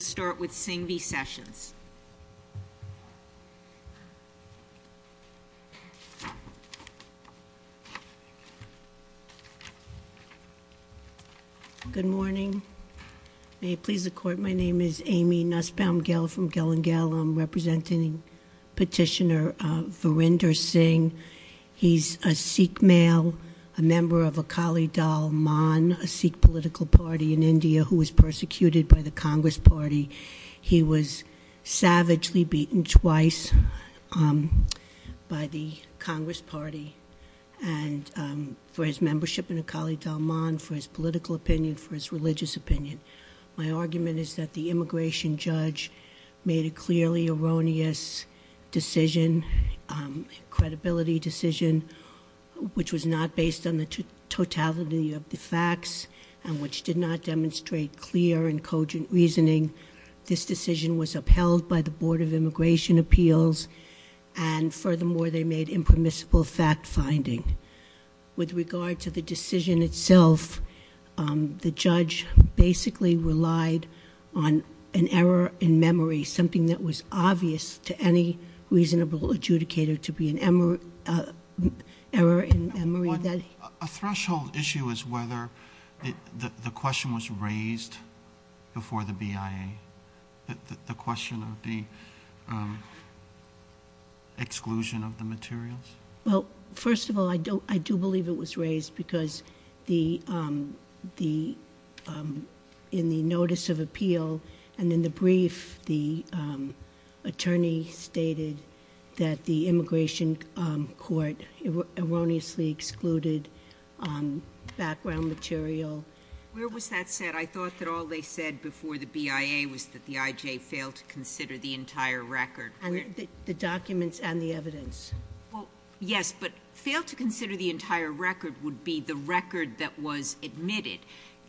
Let's start with Singh v. Sessions. Good morning. May it please the Court, my name is Amy Nussbaum-Gell from Gell and Gell. I'm representing Petitioner Varinder Singh. He's a Sikh male, a member of Akali Dalman, a Sikh political party in India who was persecuted by the Congress Party. He was savagely beaten twice by the Congress Party for his membership in Akali Dalman, for his political opinion, for his religious opinion. My argument is that the immigration judge made a clearly erroneous decision, credibility decision, which was not based on the totality of the facts and which did not demonstrate clear and cogent reasoning. This decision was upheld by the Board of Immigration Appeals, and furthermore, they made impermissible fact-finding. With regard to the decision itself, the judge basically relied on an error in memory, something that was obvious to any reasonable adjudicator to be an error in memory. A threshold issue is whether the question was raised before the BIA, the question of the exclusion of the materials. Well, first of all, I do believe it was raised because in the notice of appeal and in the brief, the attorney stated that the immigration court erroneously excluded background material. Where was that said? I thought that all they said before the BIA was that the IJ failed to consider the entire record. The documents and the evidence. Well, yes, but fail to consider the entire record would be the record that was admitted.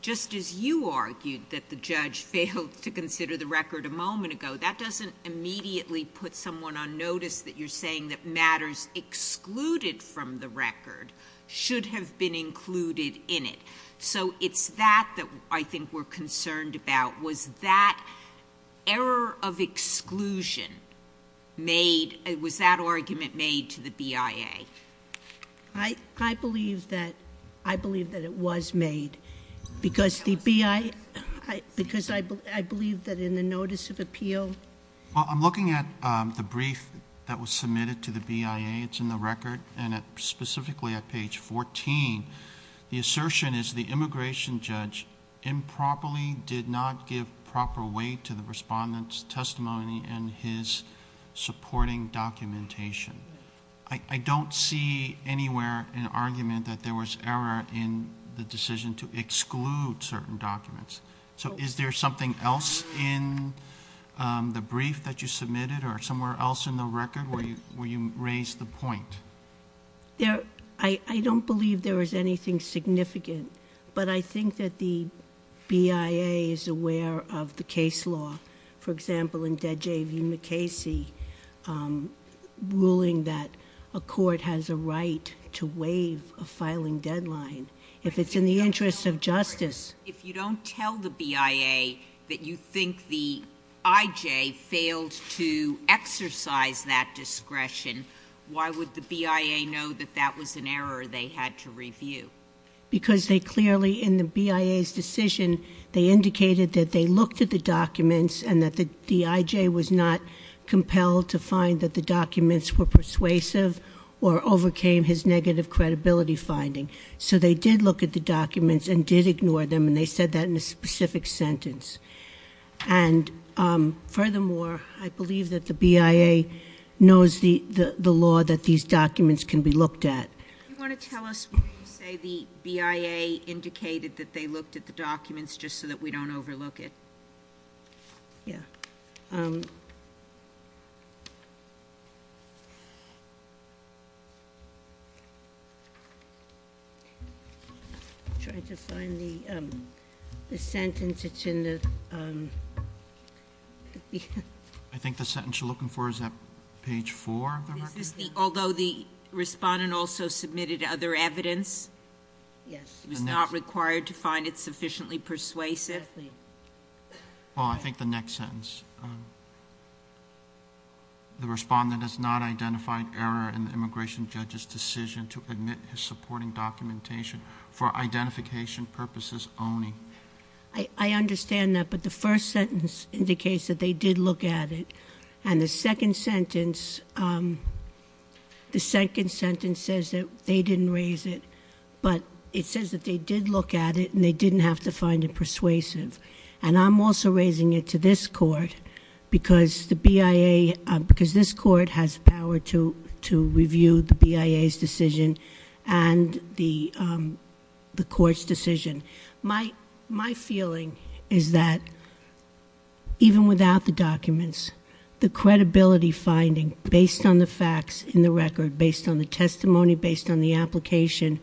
Just as you argued that the judge failed to consider the record a moment ago, that doesn't immediately put someone on notice that you're saying that matters excluded from the record should have been included in it. So it's that that I think we're concerned about. Was that error of exclusion made, was that argument made to the BIA? I believe that it was made because I believe that in the notice of appeal. Well, I'm looking at the brief that was submitted to the BIA. It's in the record and specifically at page fourteen. The assertion is the immigration judge improperly did not give proper weight to the respondent's testimony and his supporting documentation. I don't see anywhere an argument that there was error in the decision to exclude certain documents. So is there something else in the brief that you submitted or somewhere else in the record where you raised the point? I don't believe there was anything significant. But I think that the BIA is aware of the case law. For example, in Dead J.V. McCasey, ruling that a court has a right to waive a filing deadline. If it's in the interest of justice. If you don't tell the BIA that you think the IJ failed to exercise that discretion, why would the BIA know that that was an error they had to review? Because they clearly in the BIA's decision, they indicated that they looked at the documents and that the IJ was not compelled to find that the documents were persuasive or overcame his negative credibility finding. So they did look at the documents and did ignore them and they said that in a specific sentence. And furthermore, I believe that the BIA knows the law that these documents can be looked at. You want to tell us when you say the BIA indicated that they looked at the documents just so that we don't overlook it? Yeah. I'm trying to find the sentence that's in the- I think the sentence you're looking for is at page four of the record. Although the respondent also submitted other evidence? Yes. He was not required to find it sufficiently persuasive? Definitely. Well, I think the next sentence. The respondent has not identified error in the immigration judge's decision to admit his supporting documentation for identification purposes only. I understand that, but the first sentence indicates that they did look at it. And the second sentence says that they didn't raise it. But it says that they did look at it and they didn't have to find it persuasive. And I'm also raising it to this court because the BIA, because this court has power to review the BIA's decision and the court's decision. My feeling is that even without the documents, the credibility finding based on the facts in the record, based on the testimony, based on the application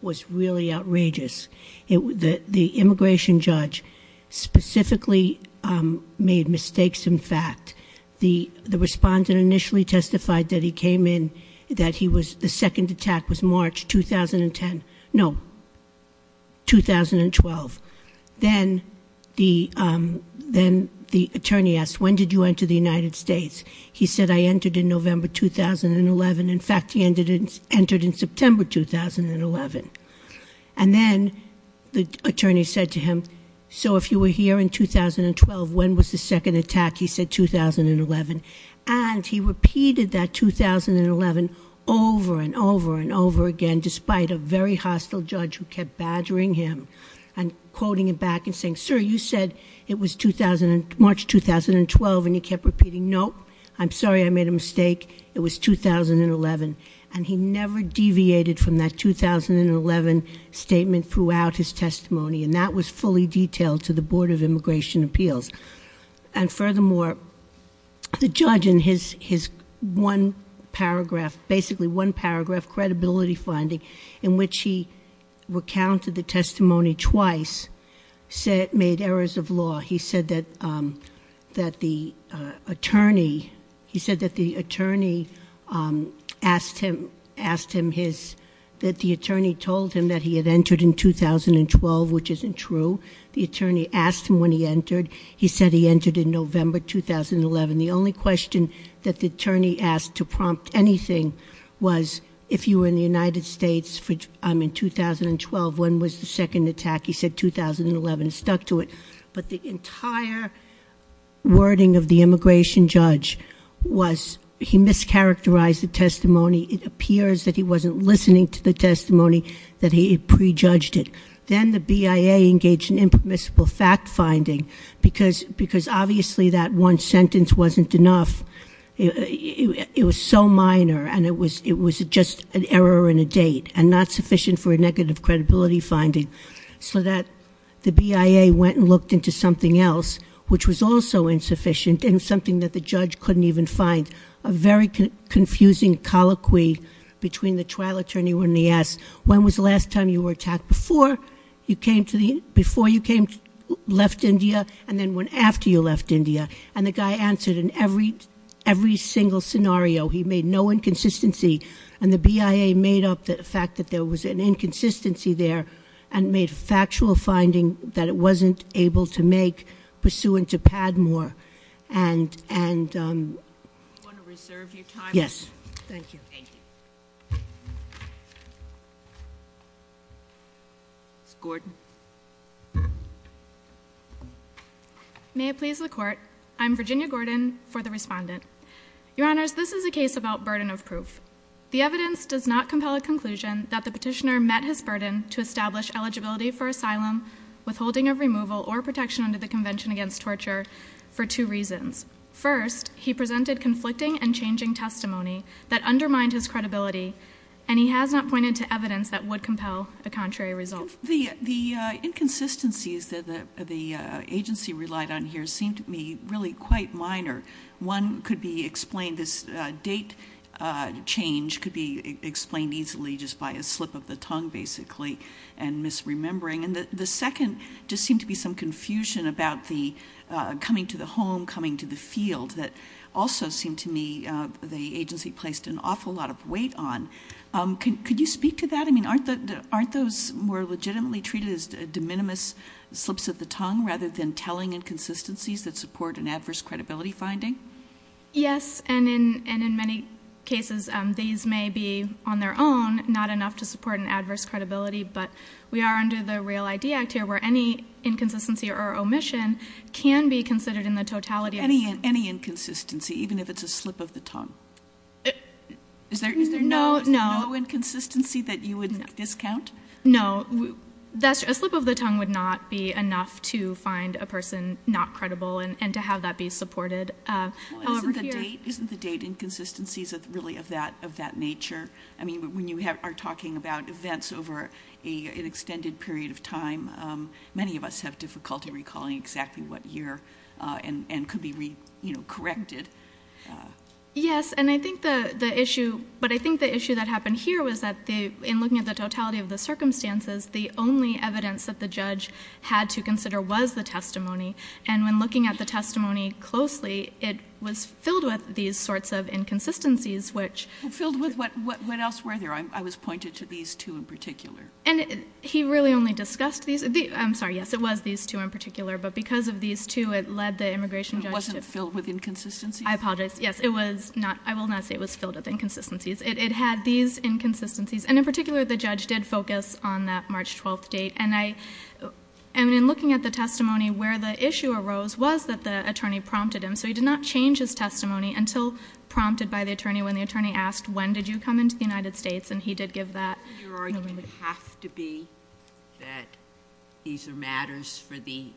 was really outrageous. The immigration judge specifically made mistakes in fact. The respondent initially testified that he came in, that the second attack was March 2010. No, 2012. Then the attorney asked, when did you enter the United States? He said, I entered in November 2011. In fact, he entered in September 2011. And then the attorney said to him, so if you were here in 2012, when was the second attack? He said, 2011. And he repeated that 2011 over and over and over again, despite a very hostile judge who kept badgering him and quoting him back and saying, sir, you said it was March 2012 and he kept repeating, no, I'm sorry, I made a mistake. It was 2011. And he never deviated from that 2011 statement throughout his testimony, and that was fully detailed to the Board of Immigration Appeals. And furthermore, the judge in his one paragraph, basically one paragraph, credibility finding, in which he recounted the testimony twice, made errors of law. He said that the attorney told him that he had entered in 2012, which isn't true. The attorney asked him when he entered. He said he entered in November 2011. The only question that the attorney asked to prompt anything was, if you were in the United States in 2012, when was the second attack? He said, 2011. But the entire wording of the immigration judge was he mischaracterized the testimony. It appears that he wasn't listening to the testimony, that he prejudged it. Then the BIA engaged in impermissible fact finding, because obviously that one sentence wasn't enough. It was so minor, and it was just an error in a date, and not sufficient for a negative credibility finding, so that the BIA went and looked into something else, which was also insufficient and something that the judge couldn't even find. A very confusing colloquy between the trial attorney when he asked, when was the last time you were attacked? Before you came, left India, and then after you left India. And the guy answered in every single scenario. He made no inconsistency. And the BIA made up the fact that there was an inconsistency there, and made factual finding that it wasn't able to make, pursuant to Padmore. And- Do you want to reserve your time? Yes. Thank you. Thank you. Ms. Gordon. May it please the court. I'm Virginia Gordon for the respondent. Your Honors, this is a case about burden of proof. The evidence does not compel a conclusion that the petitioner met his burden to establish eligibility for asylum, withholding of removal, or protection under the Convention Against Torture for two reasons. First, he presented conflicting and changing testimony that undermined his credibility, and he has not pointed to evidence that would compel a contrary result. The inconsistencies that the agency relied on here seem to me really quite minor. One could be explained, this date change could be explained easily just by a slip of the tongue, basically, and misremembering. And the second just seemed to be some confusion about the coming to the home, coming to the field, that also seemed to me the agency placed an awful lot of weight on. Could you speak to that? I mean, aren't those more legitimately treated as de minimis slips of the tongue, rather than telling inconsistencies that support an adverse credibility finding? Yes, and in many cases these may be, on their own, not enough to support an adverse credibility, but we are under the Real ID Act here where any inconsistency or omission can be considered in the totality. Any inconsistency, even if it's a slip of the tongue? Is there no inconsistency that you would discount? No. A slip of the tongue would not be enough to find a person not credible and to have that be supported. Isn't the date inconsistencies really of that nature? I mean, when you are talking about events over an extended period of time, many of us have difficulty recalling exactly what year and could be corrected. Yes, but I think the issue that happened here was that in looking at the totality of the circumstances, the only evidence that the judge had to consider was the testimony, and when looking at the testimony closely, it was filled with these sorts of inconsistencies. Filled with what else were there? I was pointed to these two in particular. And he really only discussed these. I'm sorry, yes, it was these two in particular, but because of these two it led the immigration judge to I apologize, yes, I will not say it was filled with inconsistencies. It had these inconsistencies, and in particular the judge did focus on that March 12th date. And in looking at the testimony, where the issue arose was that the attorney prompted him, so he did not change his testimony until prompted by the attorney when the attorney asked, when did you come into the United States? And he did give that. Your argument would have to be that these are matters for the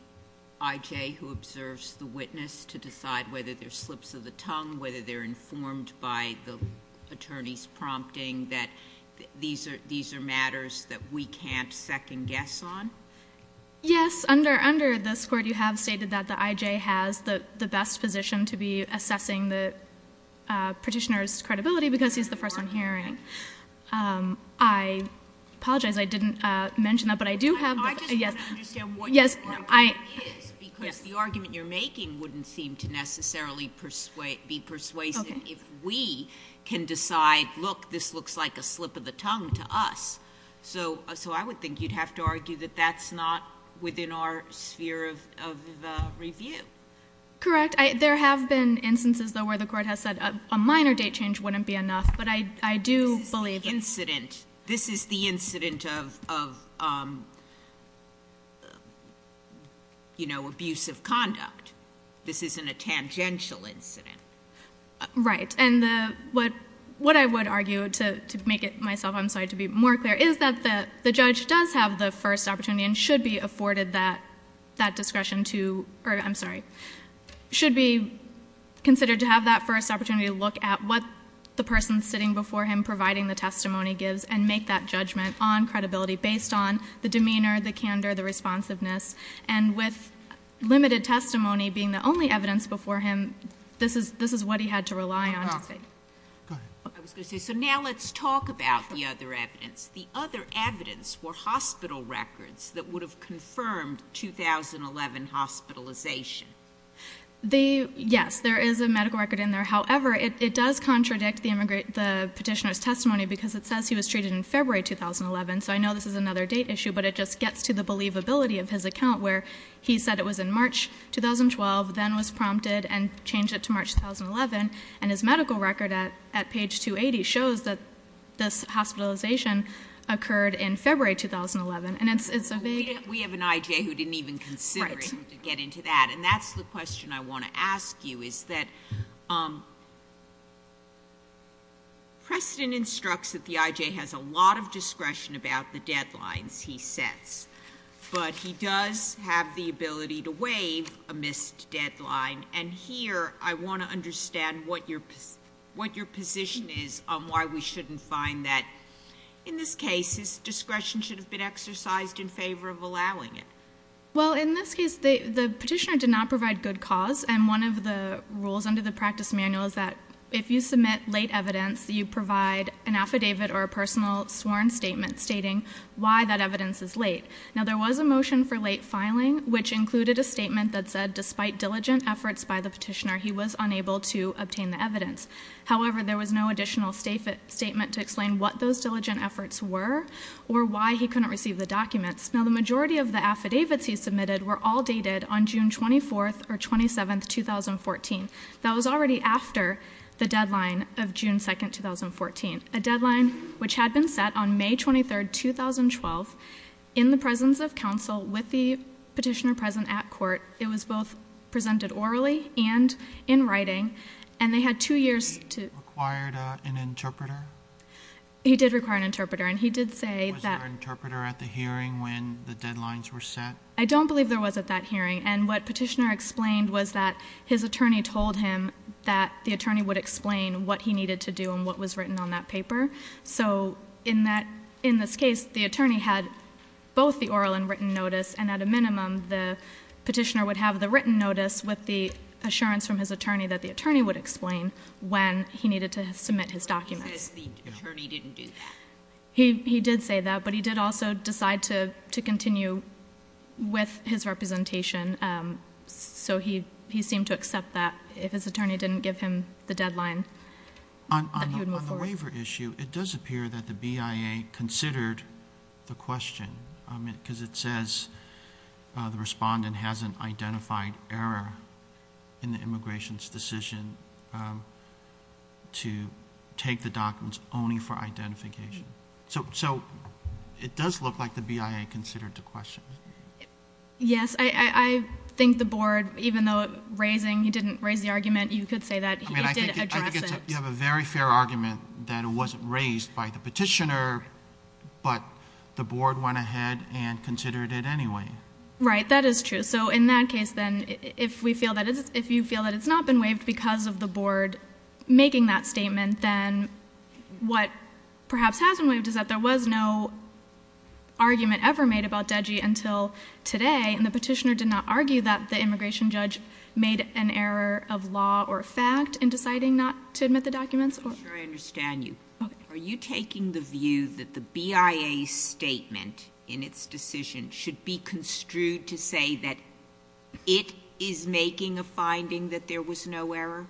I.J. who observes the witness to decide whether they're slips of the tongue, whether they're informed by the attorney's prompting that these are matters that we can't second guess on? Yes, under this court you have stated that the I.J. has the best position to be assessing the petitioner's credibility because he's the first one hearing. I apologize I didn't mention that, but I do have the I just want to understand what your argument is, because the argument you're making wouldn't seem to necessarily be persuasive if we can decide, look, this looks like a slip of the tongue to us. So I would think you'd have to argue that that's not within our sphere of review. Correct. There have been instances, though, where the court has said a minor date change wouldn't be enough, but I do believe that This is the incident of, you know, abuse of conduct. This isn't a tangential incident. Right. And what I would argue, to make it myself, I'm sorry, to be more clear, is that the judge does have the first opportunity and should be afforded that discretion to, or I'm sorry, should be considered to have that first opportunity to look at what the person sitting before him providing the testimony gives and make that judgment on credibility based on the demeanor, the candor, the responsiveness, and with limited testimony being the only evidence before him, this is what he had to rely on to say. Go ahead. I was going to say, so now let's talk about the other evidence. The other evidence were hospital records that would have confirmed 2011 hospitalization. Yes, there is a medical record in there. However, it does contradict the petitioner's testimony because it says he was treated in February 2011, so I know this is another date issue, but it just gets to the believability of his account where he said it was in March 2012, then was prompted and changed it to March 2011, and his medical record at page 280 shows that this hospitalization occurred in February 2011, and it's a vague. We have an I.J. who didn't even consider it to get into that, and that's the question I want to ask you is that Preston instructs that the I.J. has a lot of discretion about the deadlines he sets, but he does have the ability to waive a missed deadline, and here I want to understand what your position is on why we shouldn't find that. In this case, his discretion should have been exercised in favor of allowing it. Well, in this case, the petitioner did not provide good cause, and one of the rules under the practice manual is that if you submit late evidence, you provide an affidavit or a personal sworn statement stating why that evidence is late. Now, there was a motion for late filing which included a statement that said despite diligent efforts by the petitioner, he was unable to obtain the evidence. However, there was no additional statement to explain what those diligent efforts were or why he couldn't receive the documents. Now, the majority of the affidavits he submitted were all dated on June 24th or 27th, 2014. That was already after the deadline of June 2nd, 2014, a deadline which had been set on May 23rd, 2012 in the presence of counsel with the petitioner present at court. It was both presented orally and in writing, and they had two years to... He required an interpreter? He did require an interpreter, and he did say that... Was there an interpreter at the hearing when the deadlines were set? I don't believe there was at that hearing, and what petitioner explained was that his attorney told him that the attorney would explain what he needed to do and what was written on that paper. So, in this case, the attorney had both the oral and written notice, and at a minimum, the petitioner would have the written notice with the assurance from his attorney that the attorney would explain when he needed to submit his documents. He says the attorney didn't do that? He did say that, but he did also decide to continue with his representation, so he seemed to accept that if his attorney didn't give him the deadline that he would move forward. On the waiver issue, it does appear that the BIA considered the question, because it says the respondent hasn't identified error in the immigration's decision to take the documents only for identification. So, it does look like the BIA considered the question. Yes, I think the board, even though he didn't raise the argument, you could say that he did address it. You have a very fair argument that it wasn't raised by the petitioner, but the board went ahead and considered it anyway. Right, that is true. So, in that case, then, if you feel that it's not been waived because of the board making that statement, then what perhaps has been waived is that there was no argument ever made about DEGI until today, and the petitioner did not argue that the immigration judge made an error of law or fact in deciding not to admit the documents. I'm sure I understand you. Okay. Are you taking the view that the BIA's statement in its decision should be construed to say that it is making a finding that there was no error?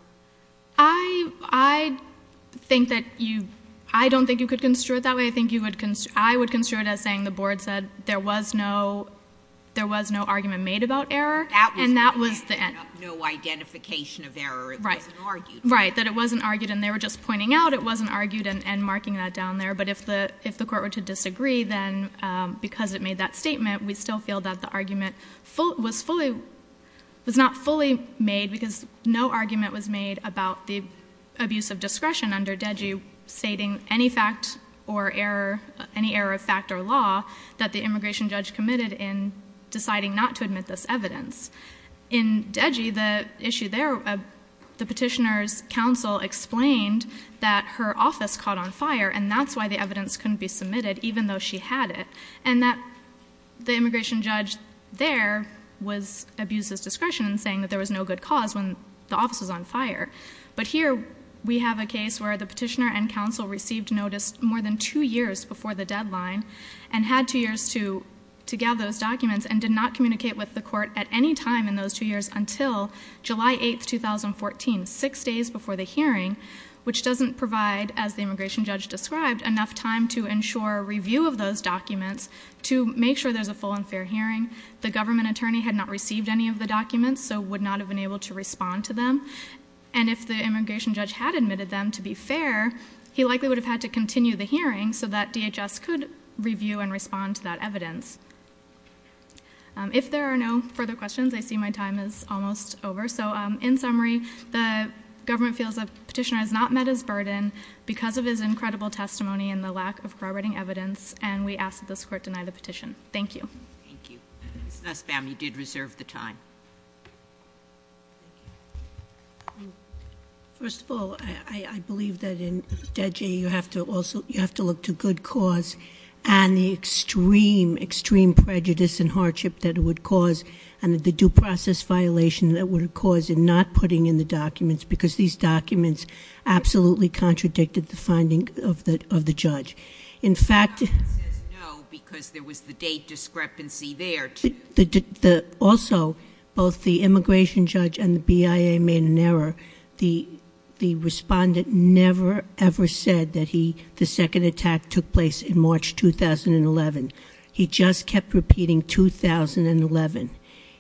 I don't think you could construe it that way. I think I would construe it as saying the board said there was no argument made about error, and that was the end. No identification of error. Right. It wasn't argued. Right, that it wasn't argued, and they were just pointing out it wasn't argued and marking that down there. But if the court were to disagree, then because it made that statement, we still feel that the argument was not fully made because no argument was made about the abuse of discretion under DEGI stating any fact or error, any error of fact or law that the immigration judge committed in deciding not to admit this evidence. In DEGI, the issue there, the petitioner's counsel explained that her office caught on fire, and that's why the evidence couldn't be submitted even though she had it, and that the immigration judge there abused his discretion in saying that there was no good cause when the office was on fire. But here we have a case where the petitioner and counsel received notice more than two years before the deadline and had two years to gather those documents and did not communicate with the court at any time in those two years until July 8, 2014, six days before the hearing, which doesn't provide, as the immigration judge described, enough time to ensure review of those documents to make sure there's a full and fair hearing. The government attorney had not received any of the documents, so would not have been able to respond to them. And if the immigration judge had admitted them to be fair, he likely would have had to continue the hearing so that DHS could review and respond to that evidence. If there are no further questions, I see my time is almost over. So in summary, the government feels the petitioner has not met his burden because of his incredible testimony and the lack of corroborating evidence, and we ask that this court deny the petition. Thank you. Thank you. Ms. Nussbaum, you did reserve the time. First of all, I believe that in DEDJ you have to look to good cause and the extreme, extreme prejudice and hardship that it would cause and the due process violation that it would cause in not putting in the documents because these documents absolutely contradicted the finding of the judge. The government says no because there was the date discrepancy there. Also, both the immigration judge and the BIA made an error. The respondent never, ever said that the second attack took place in March 2011. He just kept repeating 2011.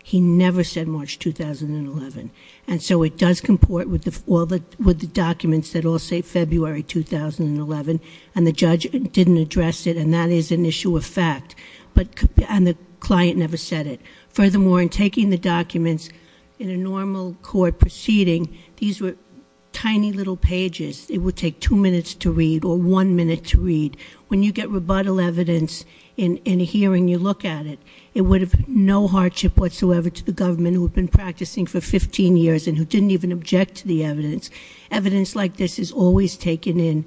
He never said March 2011. And so it does comport with the documents that all say February 2011, and the judge didn't address it, and that is an issue of fact, and the client never said it. Furthermore, in taking the documents in a normal court proceeding, these were tiny little pages. It would take two minutes to read or one minute to read. When you get rebuttal evidence in a hearing, you look at it. It would have no hardship whatsoever to the government who had been practicing for 15 years and who didn't even object to the evidence. Evidence like this is always taken in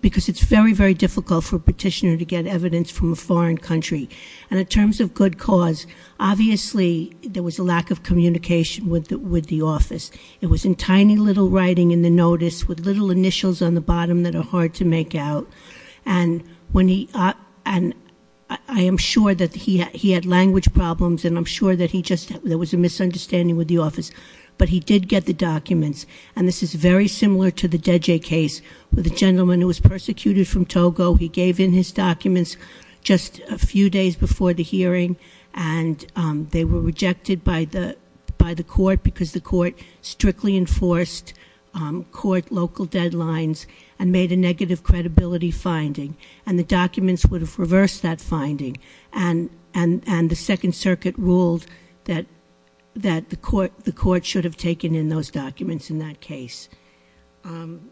because it's very, very difficult for a petitioner to get evidence from a foreign country. And in terms of good cause, obviously there was a lack of communication with the office. It was in tiny little writing in the notice with little initials on the bottom that are hard to make out, and I am sure that he had language problems, and I'm sure that there was a misunderstanding with the office, but he did get the documents, and this is very similar to the Deje case with the gentleman who was persecuted from Togo. He gave in his documents just a few days before the hearing, and they were rejected by the court because the court strictly enforced court local deadlines and made a negative credibility finding, and the documents would have reversed that finding. And the Second Circuit ruled that the court should have taken in those documents in that case. And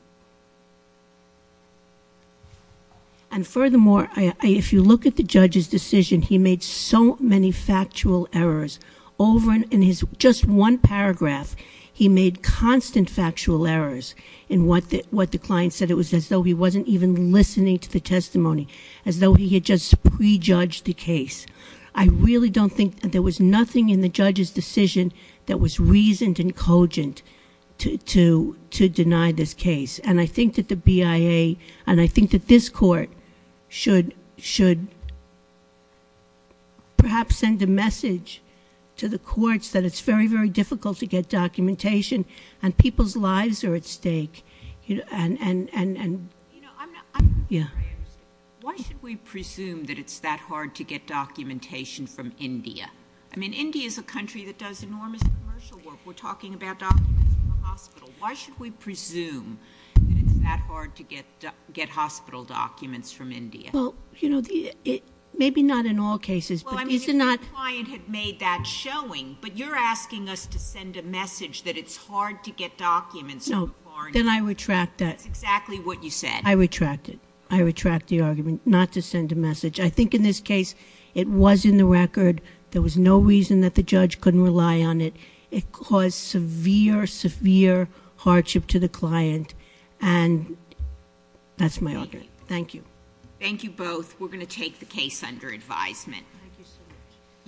furthermore, if you look at the judge's decision, he made so many factual errors. Over in his just one paragraph, he made constant factual errors in what the client said. It was as though he wasn't even listening to the testimony, as though he had just prejudged the case. I really don't think that there was nothing in the judge's decision that was reasoned and cogent to deny this case. And I think that the BIA, and I think that this court should perhaps send a message to the courts that it's very, very difficult to get documentation, and people's lives are at stake. You know, I'm not sure I understand. Why should we presume that it's that hard to get documentation from India? I mean, India is a country that does enormous commercial work. We're talking about documents from the hospital. Why should we presume that it's that hard to get hospital documents from India? Well, you know, maybe not in all cases, but these are not— Well, I mean, if your client had made that showing, but you're asking us to send a message that it's hard to get documents from a foreign country. Then I retract that. That's exactly what you said. I retract it. I retract the argument not to send a message. I think in this case, it was in the record. There was no reason that the judge couldn't rely on it. It caused severe, severe hardship to the client, and that's my argument. Thank you. Thank you both. We're going to take the case under advisement. Thank you so much.